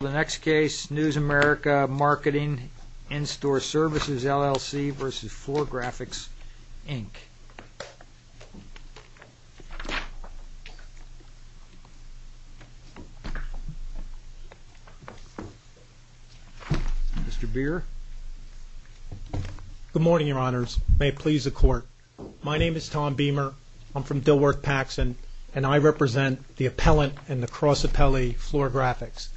The next case, News America, Marketing, In-Store Services, LLC v. Floorgraphics, Inc. Mr. Beer? Good morning, Your Honors. May it please the Court. My name is Tom Beamer. I'm from Dilworth-Paxson, and I represent the Appellant and the Cross Appellee, Floorgraphics.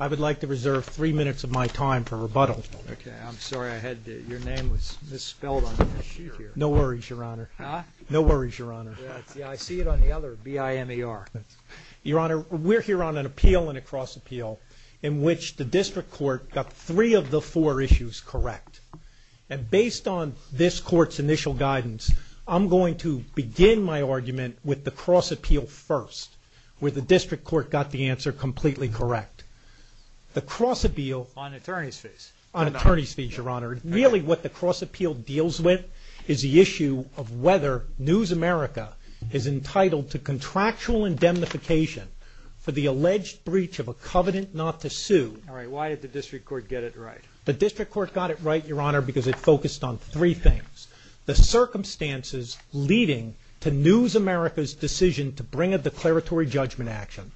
I would like to reserve three minutes of my time for rebuttal. Okay. I'm sorry. I had your name misspelled on the sheet here. No worries, Your Honor. Huh? No worries, Your Honor. Yeah, I see it on the other B-I-M-E-R. Your Honor, we're here on an appeal and a cross appeal in which the District Court got three of the four issues correct. And based on this Court's initial guidance, I'm going to begin my argument with the cross appeal first, where the District Court got the answer completely correct. The cross appeal… On attorney's fees? On attorney's fees, Your Honor. Really, what the cross appeal deals with is the issue of whether News America is entitled to contractual indemnification for the alleged breach of a covenant not to sue. All right. Why did the District Court get it right? The District Court got it right, Your Honor, because it focused on three things. The circumstances leading to News America's decision to bring a declaratory judgment action,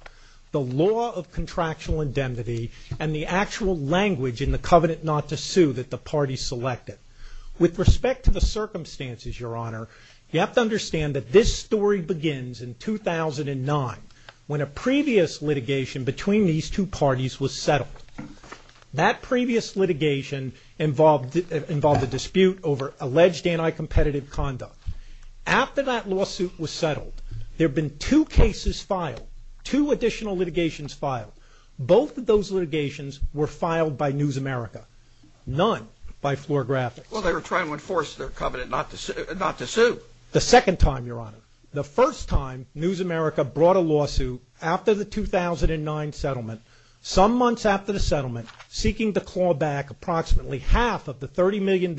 the law of contractual indemnity, and the actual language in the covenant not to sue that the parties selected. With respect to the circumstances, Your Honor, you have to understand that this story begins in 2009, when a previous litigation between these two parties was settled. That previous litigation involved a dispute over alleged anti-competitive conduct. After that lawsuit was settled, there have been two cases filed, two additional litigations filed. Both of those litigations were filed by News America, none by Florographics. Well, they were trying to enforce their covenant not to sue. The second time, Your Honor. The first time News America brought a lawsuit after the 2009 settlement, some months after the settlement, seeking to claw back approximately half of the $30 million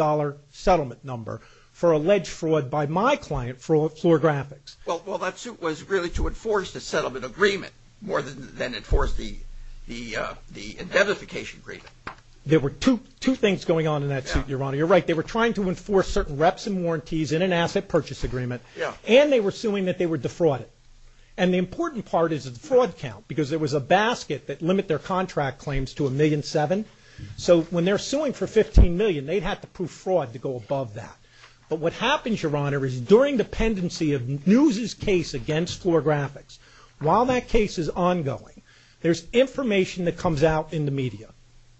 settlement number for alleged fraud by my client, Florographics. Well, that suit was really to enforce the settlement agreement more than enforce the indemnification agreement. There were two things going on in that suit, Your Honor. You're right. They were trying to enforce certain reps and warranties in an asset purchase agreement. Yeah. And they were suing that they were defrauded. And the important part is the fraud count, because there was a basket that limit their contract claims to $1.7 million. So when they're suing for $15 million, they'd have to prove fraud to go above that. But what happens, Your Honor, is during the pendency of News' case against Florographics, while that case is ongoing, there's information that comes out in the media.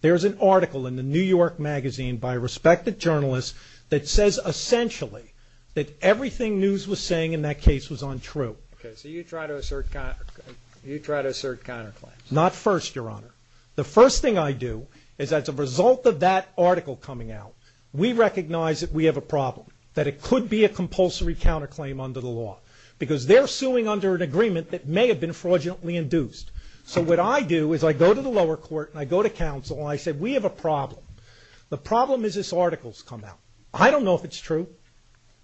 There's an article in the New York Magazine by a respected journalist that says, essentially, that everything News was saying in that case was untrue. Okay. So you try to assert counterclaims. Not first, Your Honor. The first thing I do is as a result of that article coming out, we recognize that we have a problem, that it could be a compulsory counterclaim under the law, because they're suing under an agreement that may have been fraudulently induced. So what I do is I go to the lower court and I go to counsel and I say, we have a problem. The problem is this article's come out. I don't know if it's true.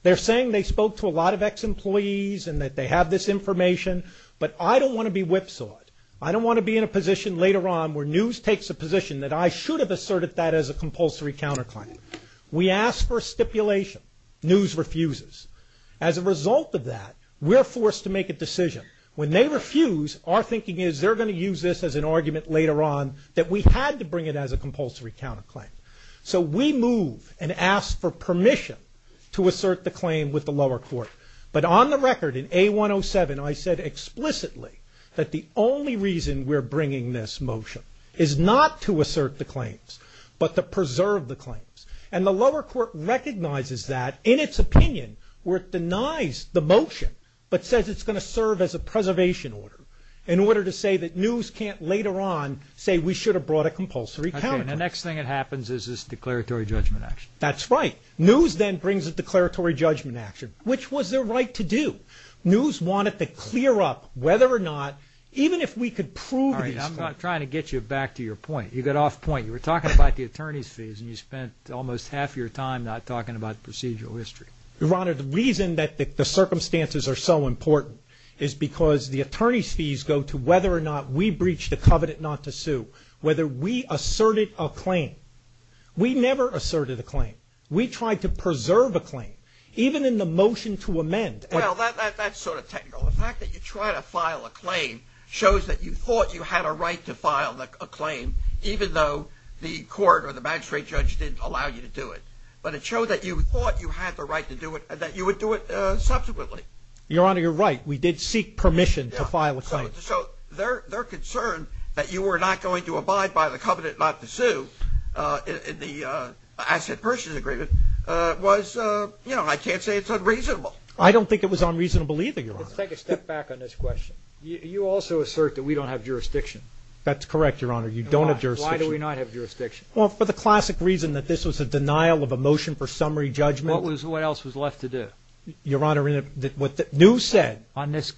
They're saying they spoke to a lot of ex-employees and that they have this information. But I don't want to be whipsawed. I don't want to be in a position later on where News takes a position that I should have asserted that as a compulsory counterclaim. We ask for a stipulation. News refuses. As a result of that, we're forced to make a decision. When they refuse, our thinking is they're going to use this as an argument later on that we had to bring it as a compulsory counterclaim. So we move and ask for permission to assert the claim with the lower court. But on the record, in A107, I said explicitly that the only reason we're bringing this motion is not to assert the claims, but to preserve the claims. And the lower court recognizes that in its opinion where it denies the motion but says it's going to serve as a preservation order in order to say that News can't later on say we should have brought a compulsory counterclaim. Okay, and the next thing that happens is this declaratory judgment action. That's right. News then brings a declaratory judgment action, which was their right to do. News wanted to clear up whether or not, even if we could prove these claims. All right, I'm trying to get you back to your point. You got off point. You were talking about the attorney's fees, and you spent almost half your time not talking about procedural history. Your Honor, the reason that the circumstances are so important is because the attorney's fees go to whether or not we breached the covenant not to sue, whether we asserted a claim. We never asserted a claim. We tried to preserve a claim, even in the motion to amend. Well, that's sort of technical. The fact that you try to file a claim shows that you thought you had a right to file a claim, even though the court or the magistrate judge didn't allow you to do it. But it showed that you thought you had the right to do it and that you would do it subsequently. Your Honor, you're right. We did seek permission to file a claim. So their concern that you were not going to abide by the covenant not to sue in the asset purchase agreement was, you know, I can't say it's unreasonable. I don't think it was unreasonable either, Your Honor. Let's take a step back on this question. You also assert that we don't have jurisdiction. That's correct, Your Honor. You don't have jurisdiction. Why do we not have jurisdiction? Well, for the classic reason that this was a denial of a motion for summary judgment. What else was left to do? Your Honor, what New said. On this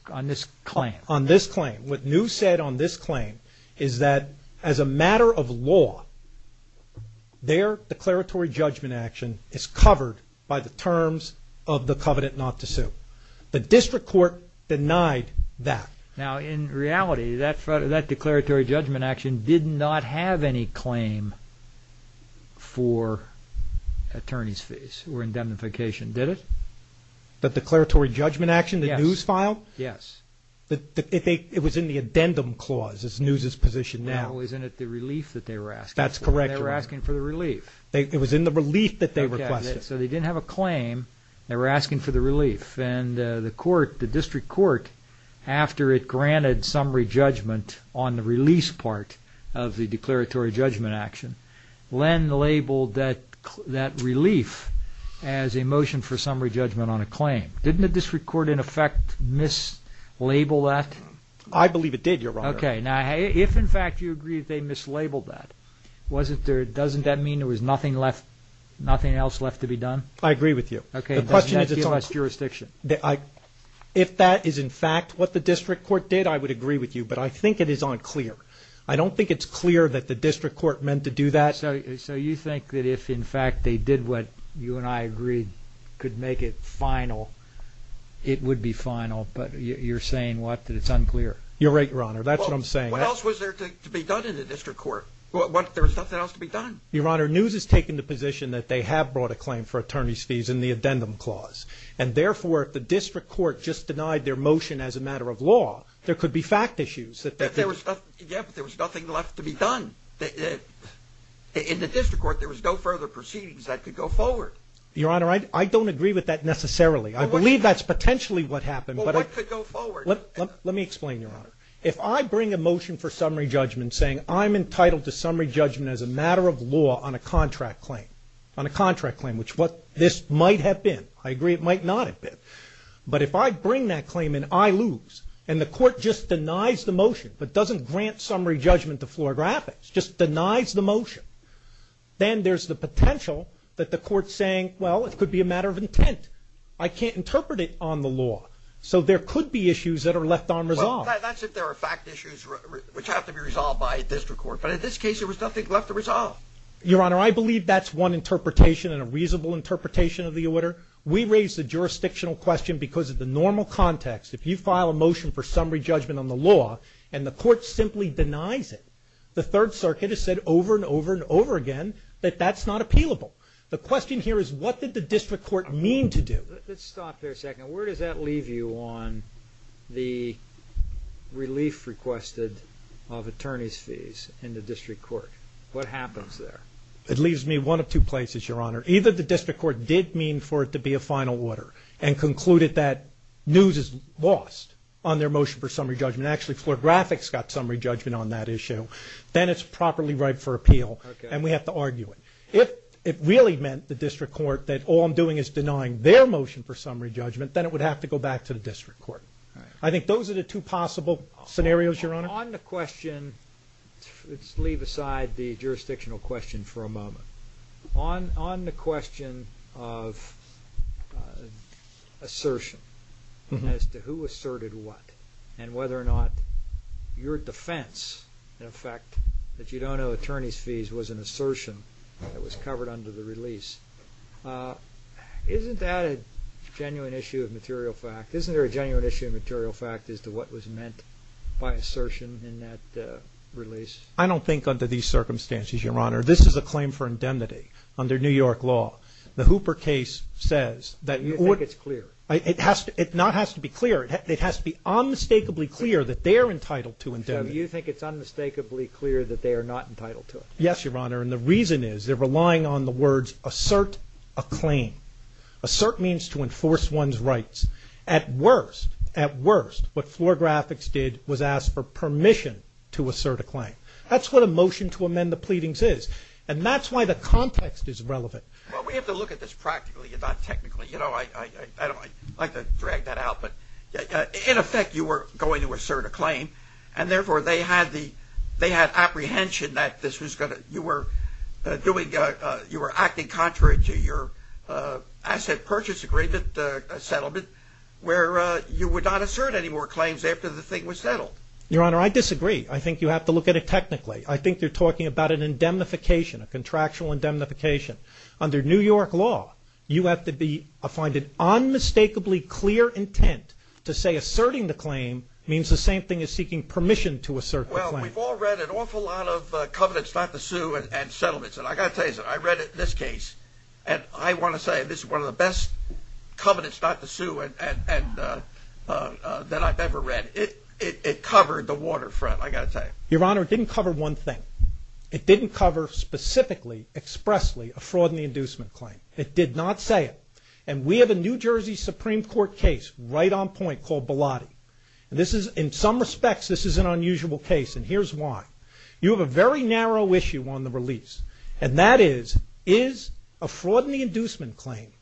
claim. On this claim. What New said on this claim is that as a matter of law, their declaratory judgment action is covered by the terms of the covenant not to sue. The district court denied that. Now, in reality, that declaratory judgment action did not have any claim for attorney's fees or indemnification, did it? The declaratory judgment action that New filed? Yes. It was in the addendum clause. It's New's position now. No, isn't it the relief that they were asking for? That's correct, Your Honor. They were asking for the relief. It was in the relief that they requested. So they didn't have a claim. They were asking for the relief. And the court, the district court, after it granted summary judgment on the release part of the declaratory judgment action, then labeled that relief as a motion for summary judgment on a claim. Didn't the district court, in effect, mislabel that? I believe it did, Your Honor. Okay. Now, if, in fact, you agree that they mislabeled that, doesn't that mean there was nothing else left to be done? I agree with you. Okay. And doesn't that give us jurisdiction? If that is, in fact, what the district court did, I would agree with you. But I think it is unclear. I don't think it's clear that the district court meant to do that. So you think that if, in fact, they did what you and I agreed could make it final, it would be final. But you're saying what? That it's unclear. You're right, Your Honor. That's what I'm saying. What else was there to be done in the district court? There was nothing else to be done. Your Honor, News has taken the position that they have brought a claim for attorney's fees in the addendum clause. And, therefore, if the district court just denied their motion as a matter of law, there could be fact issues. Yeah, but there was nothing left to be done. In the district court, there was no further proceedings that could go forward. Your Honor, I don't agree with that necessarily. I believe that's potentially what happened. But what could go forward? Let me explain, Your Honor. If I bring a motion for summary judgment saying I'm entitled to summary judgment as a matter of law on a contract claim, on a contract claim, which this might have been. I agree it might not have been. But if I bring that claim and I lose, and the court just denies the motion, but doesn't grant summary judgment to floor graphics, just denies the motion, then there's the potential that the court's saying, well, it could be a matter of intent. I can't interpret it on the law. So there could be issues that are left unresolved. That's if there are fact issues which have to be resolved by a district court. But in this case, there was nothing left to resolve. Your Honor, I believe that's one interpretation and a reasonable interpretation of the order. We raise the jurisdictional question because of the normal context. If you file a motion for summary judgment on the law and the court simply denies it, the Third Circuit has said over and over and over again that that's not appealable. The question here is what did the district court mean to do? Let's stop there a second. Where does that leave you on the relief requested of attorney's fees in the district court? What happens there? It leaves me one of two places, Your Honor. Either the district court did mean for it to be a final order and concluded that news is lost on their motion for summary judgment. Actually, floor graphics got summary judgment on that issue. Then it's properly ripe for appeal, and we have to argue it. If it really meant the district court that all I'm doing is denying their motion for summary judgment, then it would have to go back to the district court. I think those are the two possible scenarios, Your Honor. On the question, let's leave aside the jurisdictional question for a moment. On the question of assertion as to who asserted what and whether or not your defense, in effect, that you don't owe attorney's fees, was an assertion that was covered under the release, isn't that a genuine issue of material fact? Isn't there a genuine issue of material fact as to what was meant by assertion in that release? I don't think under these circumstances, Your Honor. This is a claim for indemnity under New York law. The Hooper case says that— You think it's clear. It not has to be clear. It has to be unmistakably clear that they are entitled to indemnity. So you think it's unmistakably clear that they are not entitled to it? Yes, Your Honor, and the reason is they're relying on the words, assert a claim. Assert means to enforce one's rights. At worst, at worst, what floor graphics did was ask for permission to assert a claim. That's what a motion to amend the pleadings is, and that's why the context is relevant. Well, we have to look at this practically and not technically. I like to drag that out, but in effect you were going to assert a claim, and therefore they had apprehension that you were acting contrary to your asset purchase agreement settlement where you would not assert any more claims after the thing was settled. Your Honor, I disagree. I think you have to look at it technically. I think they're talking about an indemnification, a contractual indemnification. Under New York law, you have to find an unmistakably clear intent to say asserting the claim means the same thing as seeking permission to assert the claim. Well, we've all read an awful lot of covenants not to sue and settlements, and I've got to tell you something. I read this case, and I want to say this is one of the best covenants not to sue that I've ever read. It covered the waterfront, I've got to tell you. Your Honor, it didn't cover one thing. It didn't cover specifically, expressly a fraud in the inducement claim. It did not say it, and we have a New Jersey Supreme Court case right on point called Bilotti. In some respects, this is an unusual case, and here's why. You have a very narrow issue on the release, and that is, is a fraud in the inducement claim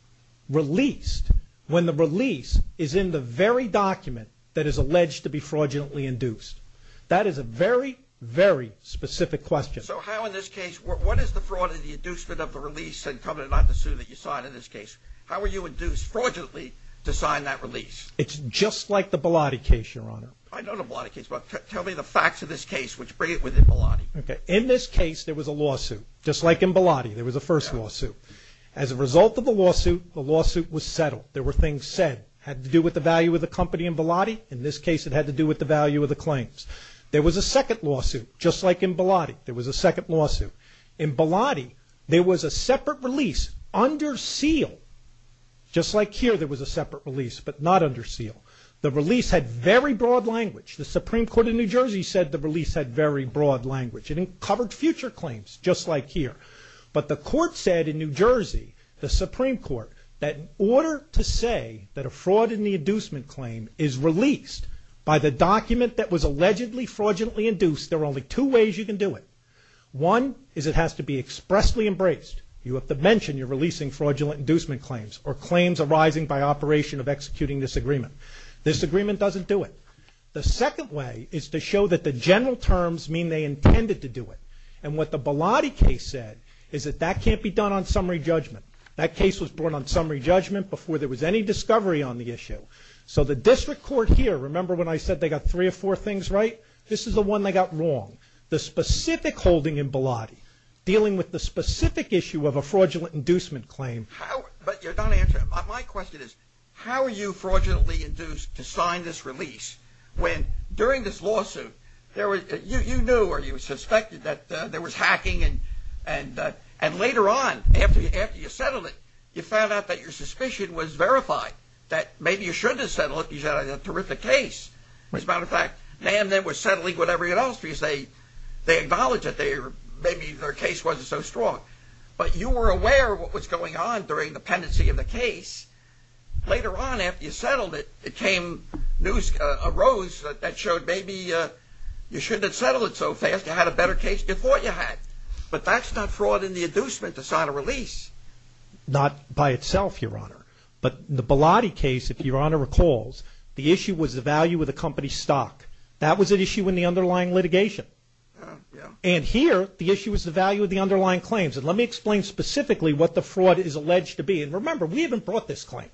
released when the release is in the very document that is alleged to be fraudulently induced? That is a very, very specific question. So how in this case, what is the fraud in the inducement of the release and covenant not to sue that you signed in this case? How were you induced fraudulently to sign that release? It's just like the Bilotti case, Your Honor. I know the Bilotti case, but tell me the facts of this case which bring it within Bilotti. Okay. In this case, there was a lawsuit, just like in Bilotti. There was a first lawsuit. As a result of the lawsuit, the lawsuit was settled. There were things said. It had to do with the value of the company in Bilotti. In this case, it had to do with the value of the claim. There was a second lawsuit, just like in Bilotti. There was a second lawsuit. In Bilotti, there was a separate release under seal. Just like here, there was a separate release, but not under seal. The release had very broad language. The Supreme Court in New Jersey said the release had very broad language. It covered future claims, just like here. But the court said in New Jersey, the Supreme Court, that in order to say that a fraud in the inducement claim is released by the document that was allegedly fraudulently induced, there are only two ways you can do it. One is it has to be expressly embraced. You have to mention you're releasing fraudulent inducement claims or claims arising by operation of executing this agreement. This agreement doesn't do it. The second way is to show that the general terms mean they intended to do it. And what the Bilotti case said is that that can't be done on summary judgment. That case was brought on summary judgment before there was any discovery on the issue. So the district court here, remember when I said they got three or four things right? This is the one they got wrong. The specific holding in Bilotti, dealing with the specific issue of a fraudulent inducement claim. My question is, how are you fraudulently induced to sign this release when during this lawsuit you knew or you suspected that there was hacking and later on, after you settled it, you found out that your suspicion was verified, that maybe you shouldn't have settled it because you had a terrific case. As a matter of fact, NAM then was settling with everyone else because they acknowledged that maybe their case wasn't so strong. But you were aware of what was going on during the pendency of the case. Later on, after you settled it, news arose that showed maybe you shouldn't have settled it so fast. You had a better case than you thought you had. But that's not fraud in the inducement to sign a release. Not by itself, Your Honor. But the Bilotti case, if Your Honor recalls, the issue was the value of the company's stock. That was an issue in the underlying litigation. And here, the issue was the value of the underlying claims. And let me explain specifically what the fraud is alleged to be. And remember, we haven't brought this claim.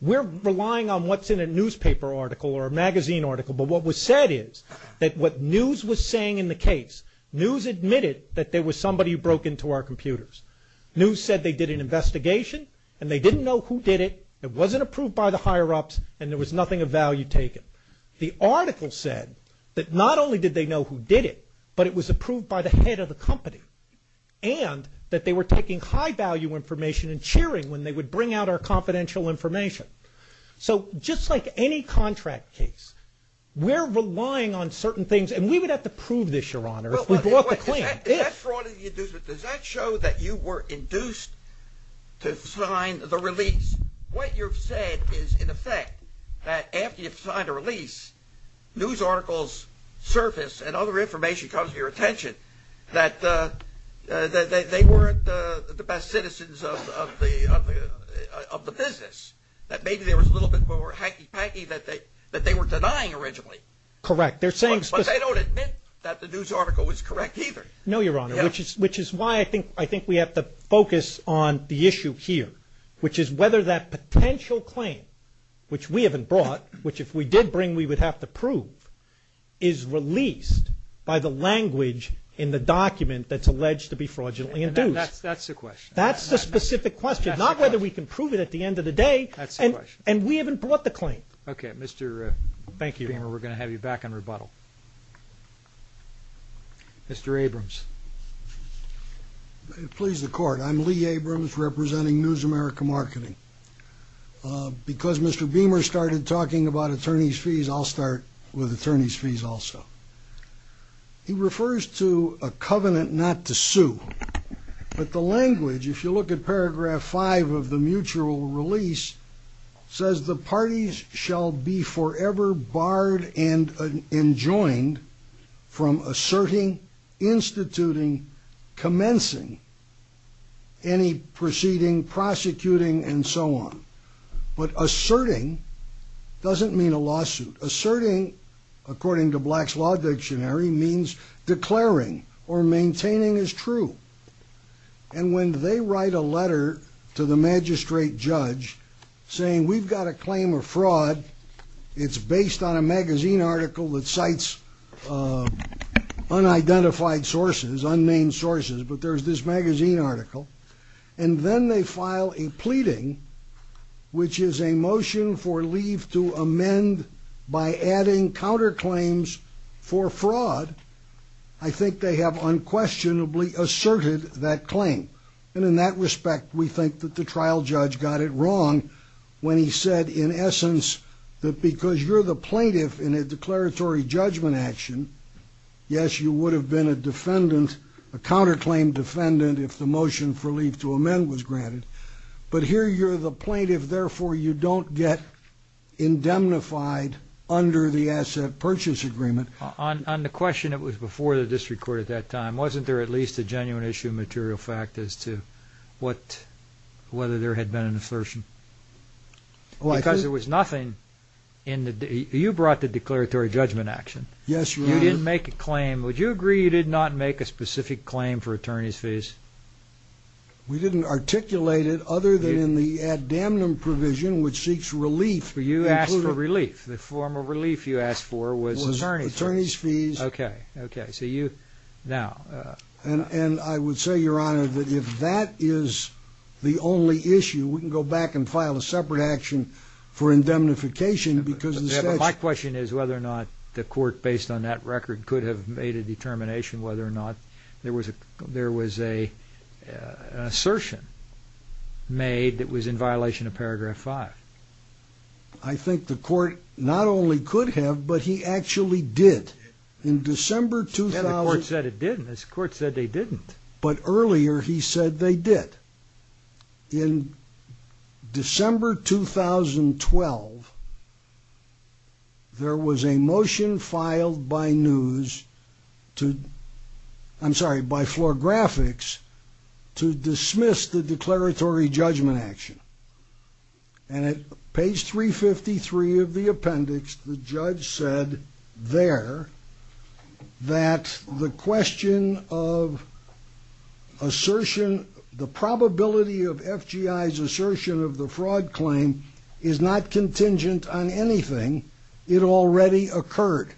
We're relying on what's in a newspaper article or a magazine article. But what was said is that what news was saying in the case, news admitted that there was somebody who broke into our computers. News said they did an investigation, and they didn't know who did it. It wasn't approved by the higher-ups, and there was nothing of value taken. The article said that not only did they know who did it, but it was approved by the head of the company. And that they were taking high-value information and cheering when they would bring out our confidential information. So just like any contract case, we're relying on certain things. And we would have to prove this, Your Honor, if we brought the claim. Does that show that you were induced to sign the release? What you've said is, in effect, that after you've signed a release, news articles surface and other information comes to your attention that they weren't the best citizens of the business, that maybe there was a little bit more hacky-packy that they were denying originally. Correct. But they don't admit that the news article was correct either. No, Your Honor, which is why I think we have to focus on the issue here, which is whether that potential claim, which we haven't brought, which if we did bring we would have to prove, is released by the language in the document that's alleged to be fraudulently induced. That's the question. That's the specific question, not whether we can prove it at the end of the day. That's the question. And we haven't brought the claim. Okay. Mr. Beamer, we're going to have you back on rebuttal. Mr. Abrams. Please, the Court. I'm Lee Abrams representing News America Marketing. Because Mr. Beamer started talking about attorney's fees, I'll start with attorney's fees also. He refers to a covenant not to sue. But the language, if you look at paragraph 5 of the mutual release, says the parties shall be forever barred and enjoined from asserting, instituting, commencing any proceeding, prosecuting, and so on. But asserting doesn't mean a lawsuit. Asserting, according to Black's Law Dictionary, means declaring or maintaining as true. And when they write a letter to the magistrate judge saying we've got a claim of fraud, it's based on a magazine article that cites unidentified sources, unnamed sources, but there's this magazine article, and then they file a pleading, which is a motion for leave to amend by adding counterclaims for fraud, I think they have unquestionably asserted that claim. And in that respect, we think that the trial judge got it wrong when he said, in essence, that because you're the plaintiff in a declaratory judgment action, yes, you would have been a defendant, a counterclaim defendant, if the motion for leave to amend was granted. But here you're the plaintiff, therefore you don't get indemnified under the asset purchase agreement. On the question that was before the district court at that time, wasn't there at least a genuine issue of material fact as to whether there had been an assertion? Because there was nothing in the – you brought the declaratory judgment action. Yes, Your Honor. You didn't make a claim. Would you agree you did not make a specific claim for attorney's fees? We didn't articulate it other than in the ad damnum provision, which seeks relief. You asked for relief. The form of relief you asked for was attorney's fees. It was attorney's fees. Okay. Okay. So you – now. And I would say, Your Honor, that if that is the only issue, we can go back and file a separate action for indemnification because the statute – My question is whether or not the court, based on that record, could have made a determination whether or not there was an assertion made that was in violation of paragraph 5. I think the court not only could have, but he actually did. In December 2000 – And the court said it didn't. The court said they didn't. But earlier he said they did. In December 2012, there was a motion filed by news to – I'm sorry, by floor graphics to dismiss the declaratory judgment action. And at page 353 of the appendix, the judge said there that the question of assertion – the probability of FGI's assertion of the fraud claim is not contingent on anything. It already occurred.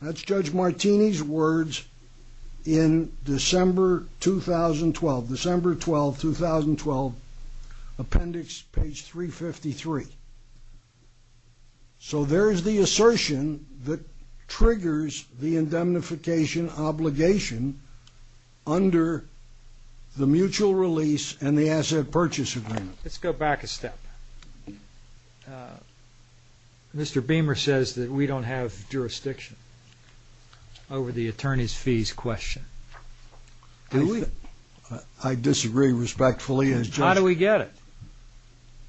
That's Judge Martini's words in December 2012, December 12, 2012, appendix page 353. So there is the assertion that triggers the indemnification obligation under the mutual release and the asset purchase agreement. Let's go back a step. Mr. Beamer says that we don't have jurisdiction over the attorney's fees question. Do we? I disagree respectfully as judge. How do we get it?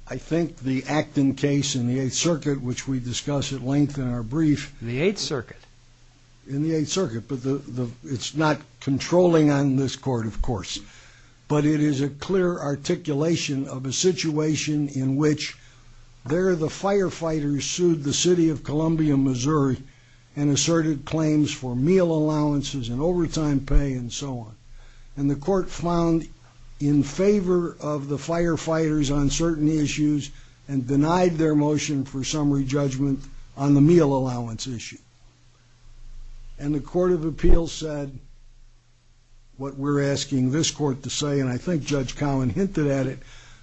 I think the Acton case in the Eighth Circuit, which we discuss at length in our brief – In the Eighth Circuit? In the Eighth Circuit. But it's not controlling on this court, of course. But it is a clear articulation of a situation in which there the firefighters sued the city of Columbia, Missouri and asserted claims for meal allowances and overtime pay and so on. And the court found in favor of the firefighters on certain issues and denied their motion for summary judgment on the meal allowance issue. And the court of appeals said what we're asking this court to say, and I think Judge Cowen hinted at it.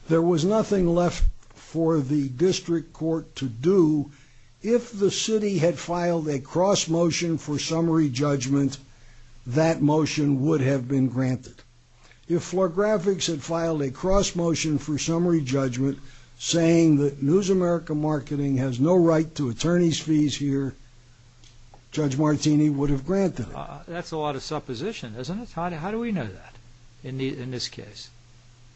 There was nothing left for the district court to do. If the city had filed a cross motion for summary judgment, that motion would have been granted. If FlorGraphics had filed a cross motion for summary judgment, saying that News America Marketing has no right to attorney's fees here, Judge Martini would have granted it. That's a lot of supposition, isn't it? How do we know that in this case?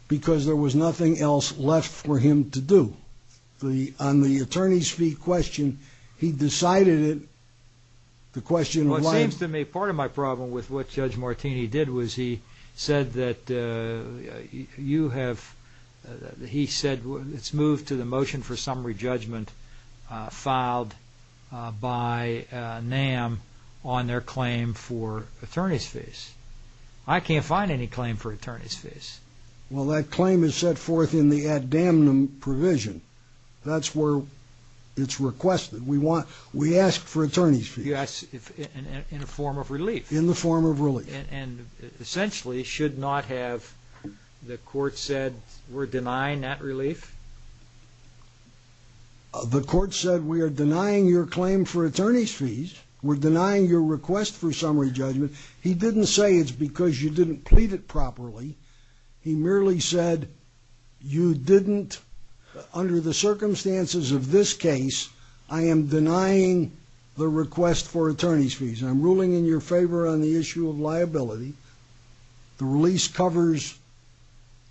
Because there was nothing else left for him to do. On the attorney's fee question, he decided it. The question – Well, it seems to me part of my problem with what Judge Martini did was he said that you have – he said it's moved to the motion for summary judgment filed by NAM on their claim for attorney's fees. I can't find any claim for attorney's fees. Well, that claim is set forth in the ad damnum provision. That's where it's requested. We ask for attorney's fees. Yes, in a form of relief. In the form of relief. And essentially should not have the court said we're denying that relief? The court said we are denying your claim for attorney's fees. We're denying your request for summary judgment. He didn't say it's because you didn't plead it properly. He merely said you didn't, under the circumstances of this case, I am denying the request for attorney's fees. I'm ruling in your favor on the issue of liability. The release covers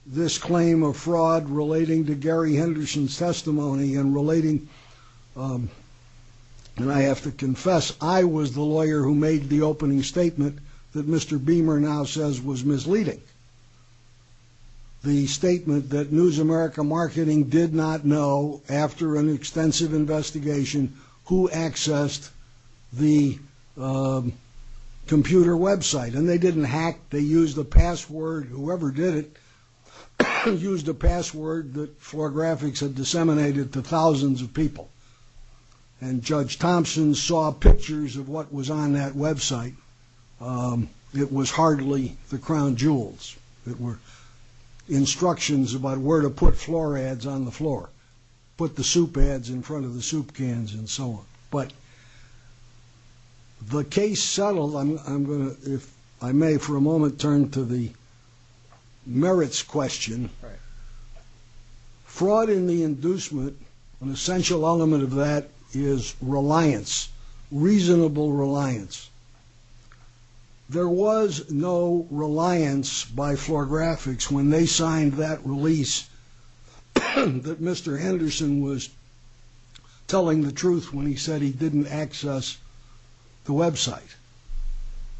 this claim of fraud relating to Gary Henderson's testimony and relating – and I have to confess, I was the lawyer who made the opening statement that Mr. Beamer now says was misleading. The statement that News America Marketing did not know after an extensive investigation who accessed the computer website. And they didn't hack. They used a password. Whoever did it used a password that floor graphics had disseminated to thousands of people. And Judge Thompson saw pictures of what was on that website. It was hardly the crown jewels. It were instructions about where to put floor ads on the floor. Or put the soup ads in front of the soup cans and so on. But the case settled. I'm going to, if I may for a moment, turn to the merits question. Fraud in the inducement, an essential element of that is reliance, reasonable reliance. There was no reliance by floor graphics when they signed that release that Mr. Henderson was telling the truth when he said he didn't access the website.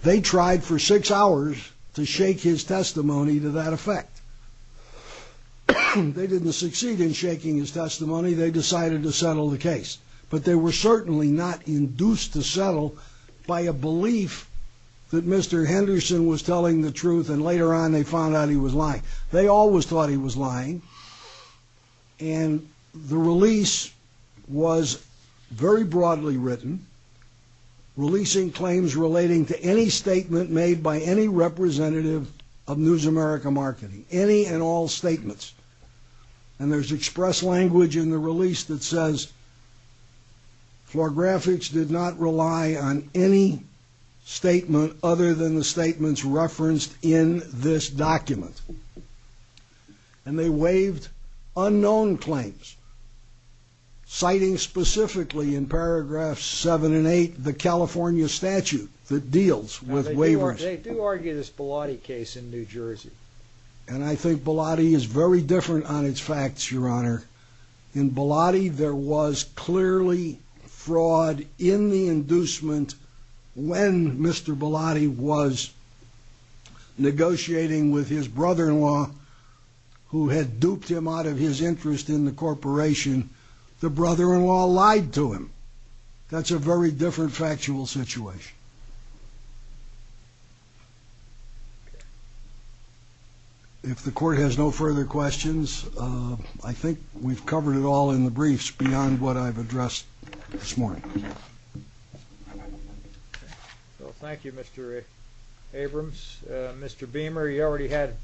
They tried for six hours to shake his testimony to that effect. They didn't succeed in shaking his testimony. They decided to settle the case. But they were certainly not induced to settle by a belief that Mr. Henderson was telling the truth and later on they found out he was lying. They always thought he was lying. And the release was very broadly written, releasing claims relating to any statement made by any representative of News America Marketing. Any and all statements. And there's express language in the release that says floor graphics did not rely on any statement other than the statements referenced in this document. And they waived unknown claims citing specifically in paragraphs seven and eight the California statute that deals with waivers. They do argue this Bilotti case in New Jersey. And I think Bilotti is very different on its facts, Your Honor. In Bilotti there was clearly fraud in the inducement when Mr. Bilotti was negotiating with his brother-in-law who had duped him out of his interest in the corporation. The brother-in-law lied to him. That's a very different factual situation. If the court has no further questions, I think we've covered it all in the briefs beyond what I've addressed this morning. Well, thank you, Mr. Abrams. Mr. Beamer, you already had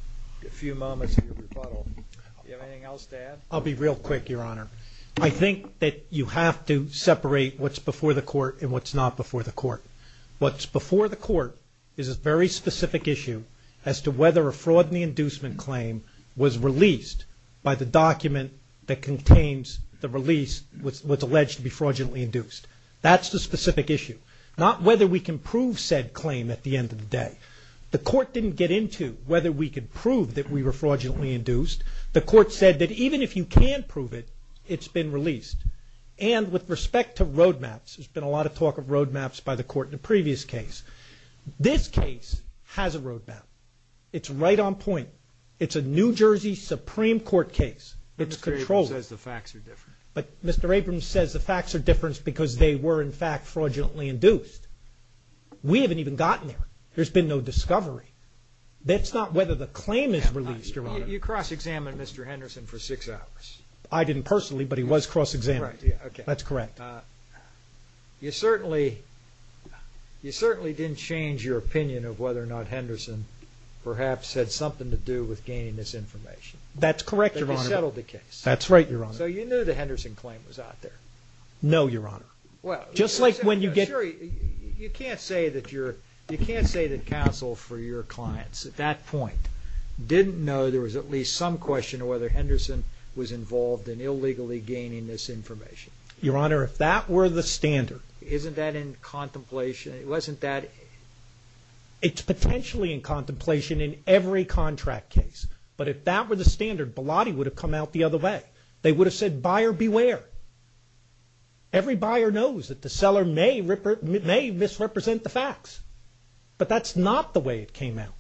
a few moments in your rebuttal. Do you have anything else to add? I'll be real quick, Your Honor. I think that you have to separate what's before the court and what's not before the court. What's before the court is a very specific issue as to whether a fraud in the inducement claim was released by the document that contains the release which was alleged to be fraudulently induced. That's the specific issue. Not whether we can prove said claim at the end of the day. The court didn't get into whether we could prove that we were fraudulently induced. The court said that even if you can prove it, it's been released. And with respect to roadmaps, there's been a lot of talk of roadmaps by the court in the previous case. This case has a roadmap. It's right on point. It's a New Jersey Supreme Court case. It's controlled. But Mr. Abrams says the facts are different. But Mr. Abrams says the facts are different because they were, in fact, fraudulently induced. We haven't even gotten there. There's been no discovery. That's not whether the claim is released, Your Honor. You cross-examined Mr. Henderson for six hours. I didn't personally, but he was cross-examined. That's correct. You certainly didn't change your opinion of whether or not Henderson perhaps had something to do with gaining this information. That's correct, Your Honor. That you settled the case. That's right, Your Honor. So you knew the Henderson claim was out there. No, Your Honor. Just like when you get You can't say that counsel for your clients at that point didn't know there was at least some question of whether Henderson was involved in illegally gaining this information. Your Honor, if that were the standard Isn't that in contemplation? It wasn't that It's potentially in contemplation in every contract case. But if that were the standard, Bilotti would have come out the other way. They would have said, Buyer, beware. Every buyer knows that the seller may misrepresent the facts. But that's not the way it came out.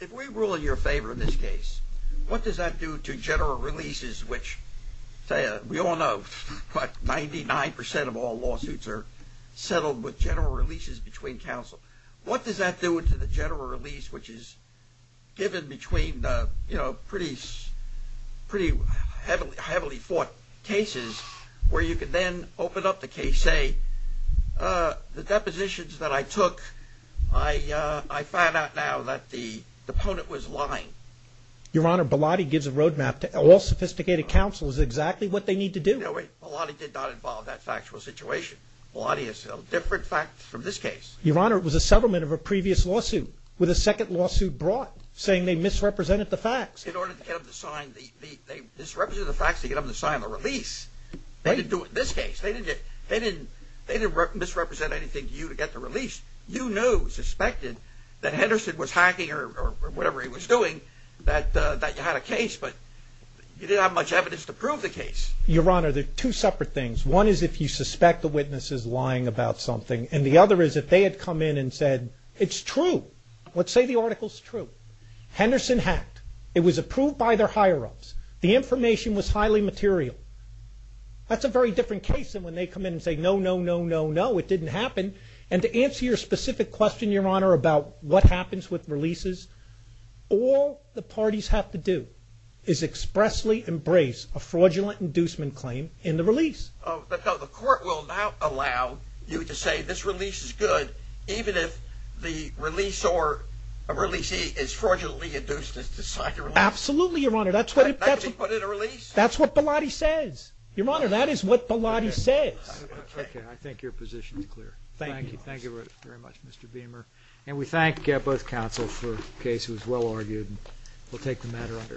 If we rule in your favor in this case, what does that do to general releases, which we all know 99% of all lawsuits are settled with general releases between counsel. What does that do to the general release, which is given between pretty heavily fought cases, where you can then open up the case, say, The depositions that I took, I found out now that the opponent was lying. Your Honor, Bilotti gives a roadmap to all sophisticated counsels exactly what they need to do. No, Bilotti did not involve that factual situation. Bilotti is a different fact from this case. Your Honor, it was a settlement of a previous lawsuit with a second lawsuit brought, saying they misrepresented the facts. In order to get them to sign, they misrepresented the facts to get them to sign the release. They didn't do it in this case. They didn't misrepresent anything to you to get the release. You knew, suspected, that Henderson was hacking or whatever he was doing, that you had a case, but you didn't have much evidence to prove the case. Your Honor, they're two separate things. One is if you suspect the witness is lying about something, and the other is if they had come in and said, it's true. Let's say the article's true. Henderson hacked. It was approved by their higher-ups. The information was highly material. That's a very different case than when they come in and say, no, no, no, no, no, it didn't happen. And to answer your specific question, Your Honor, about what happens with releases, all the parties have to do is expressly embrace a fraudulent inducement claim in the release. The court will not allow you to say this release is good, even if the release or a releasee is fraudulently induced to sign the release. Absolutely, Your Honor. That's what Bilotti said. That's what he says. Your Honor, that is what Bilotti says. Okay. I think your position is clear. Thank you. Thank you very much, Mr. Beamer. And we thank both counsel for a case that was well-argued. We'll take the matter under advice.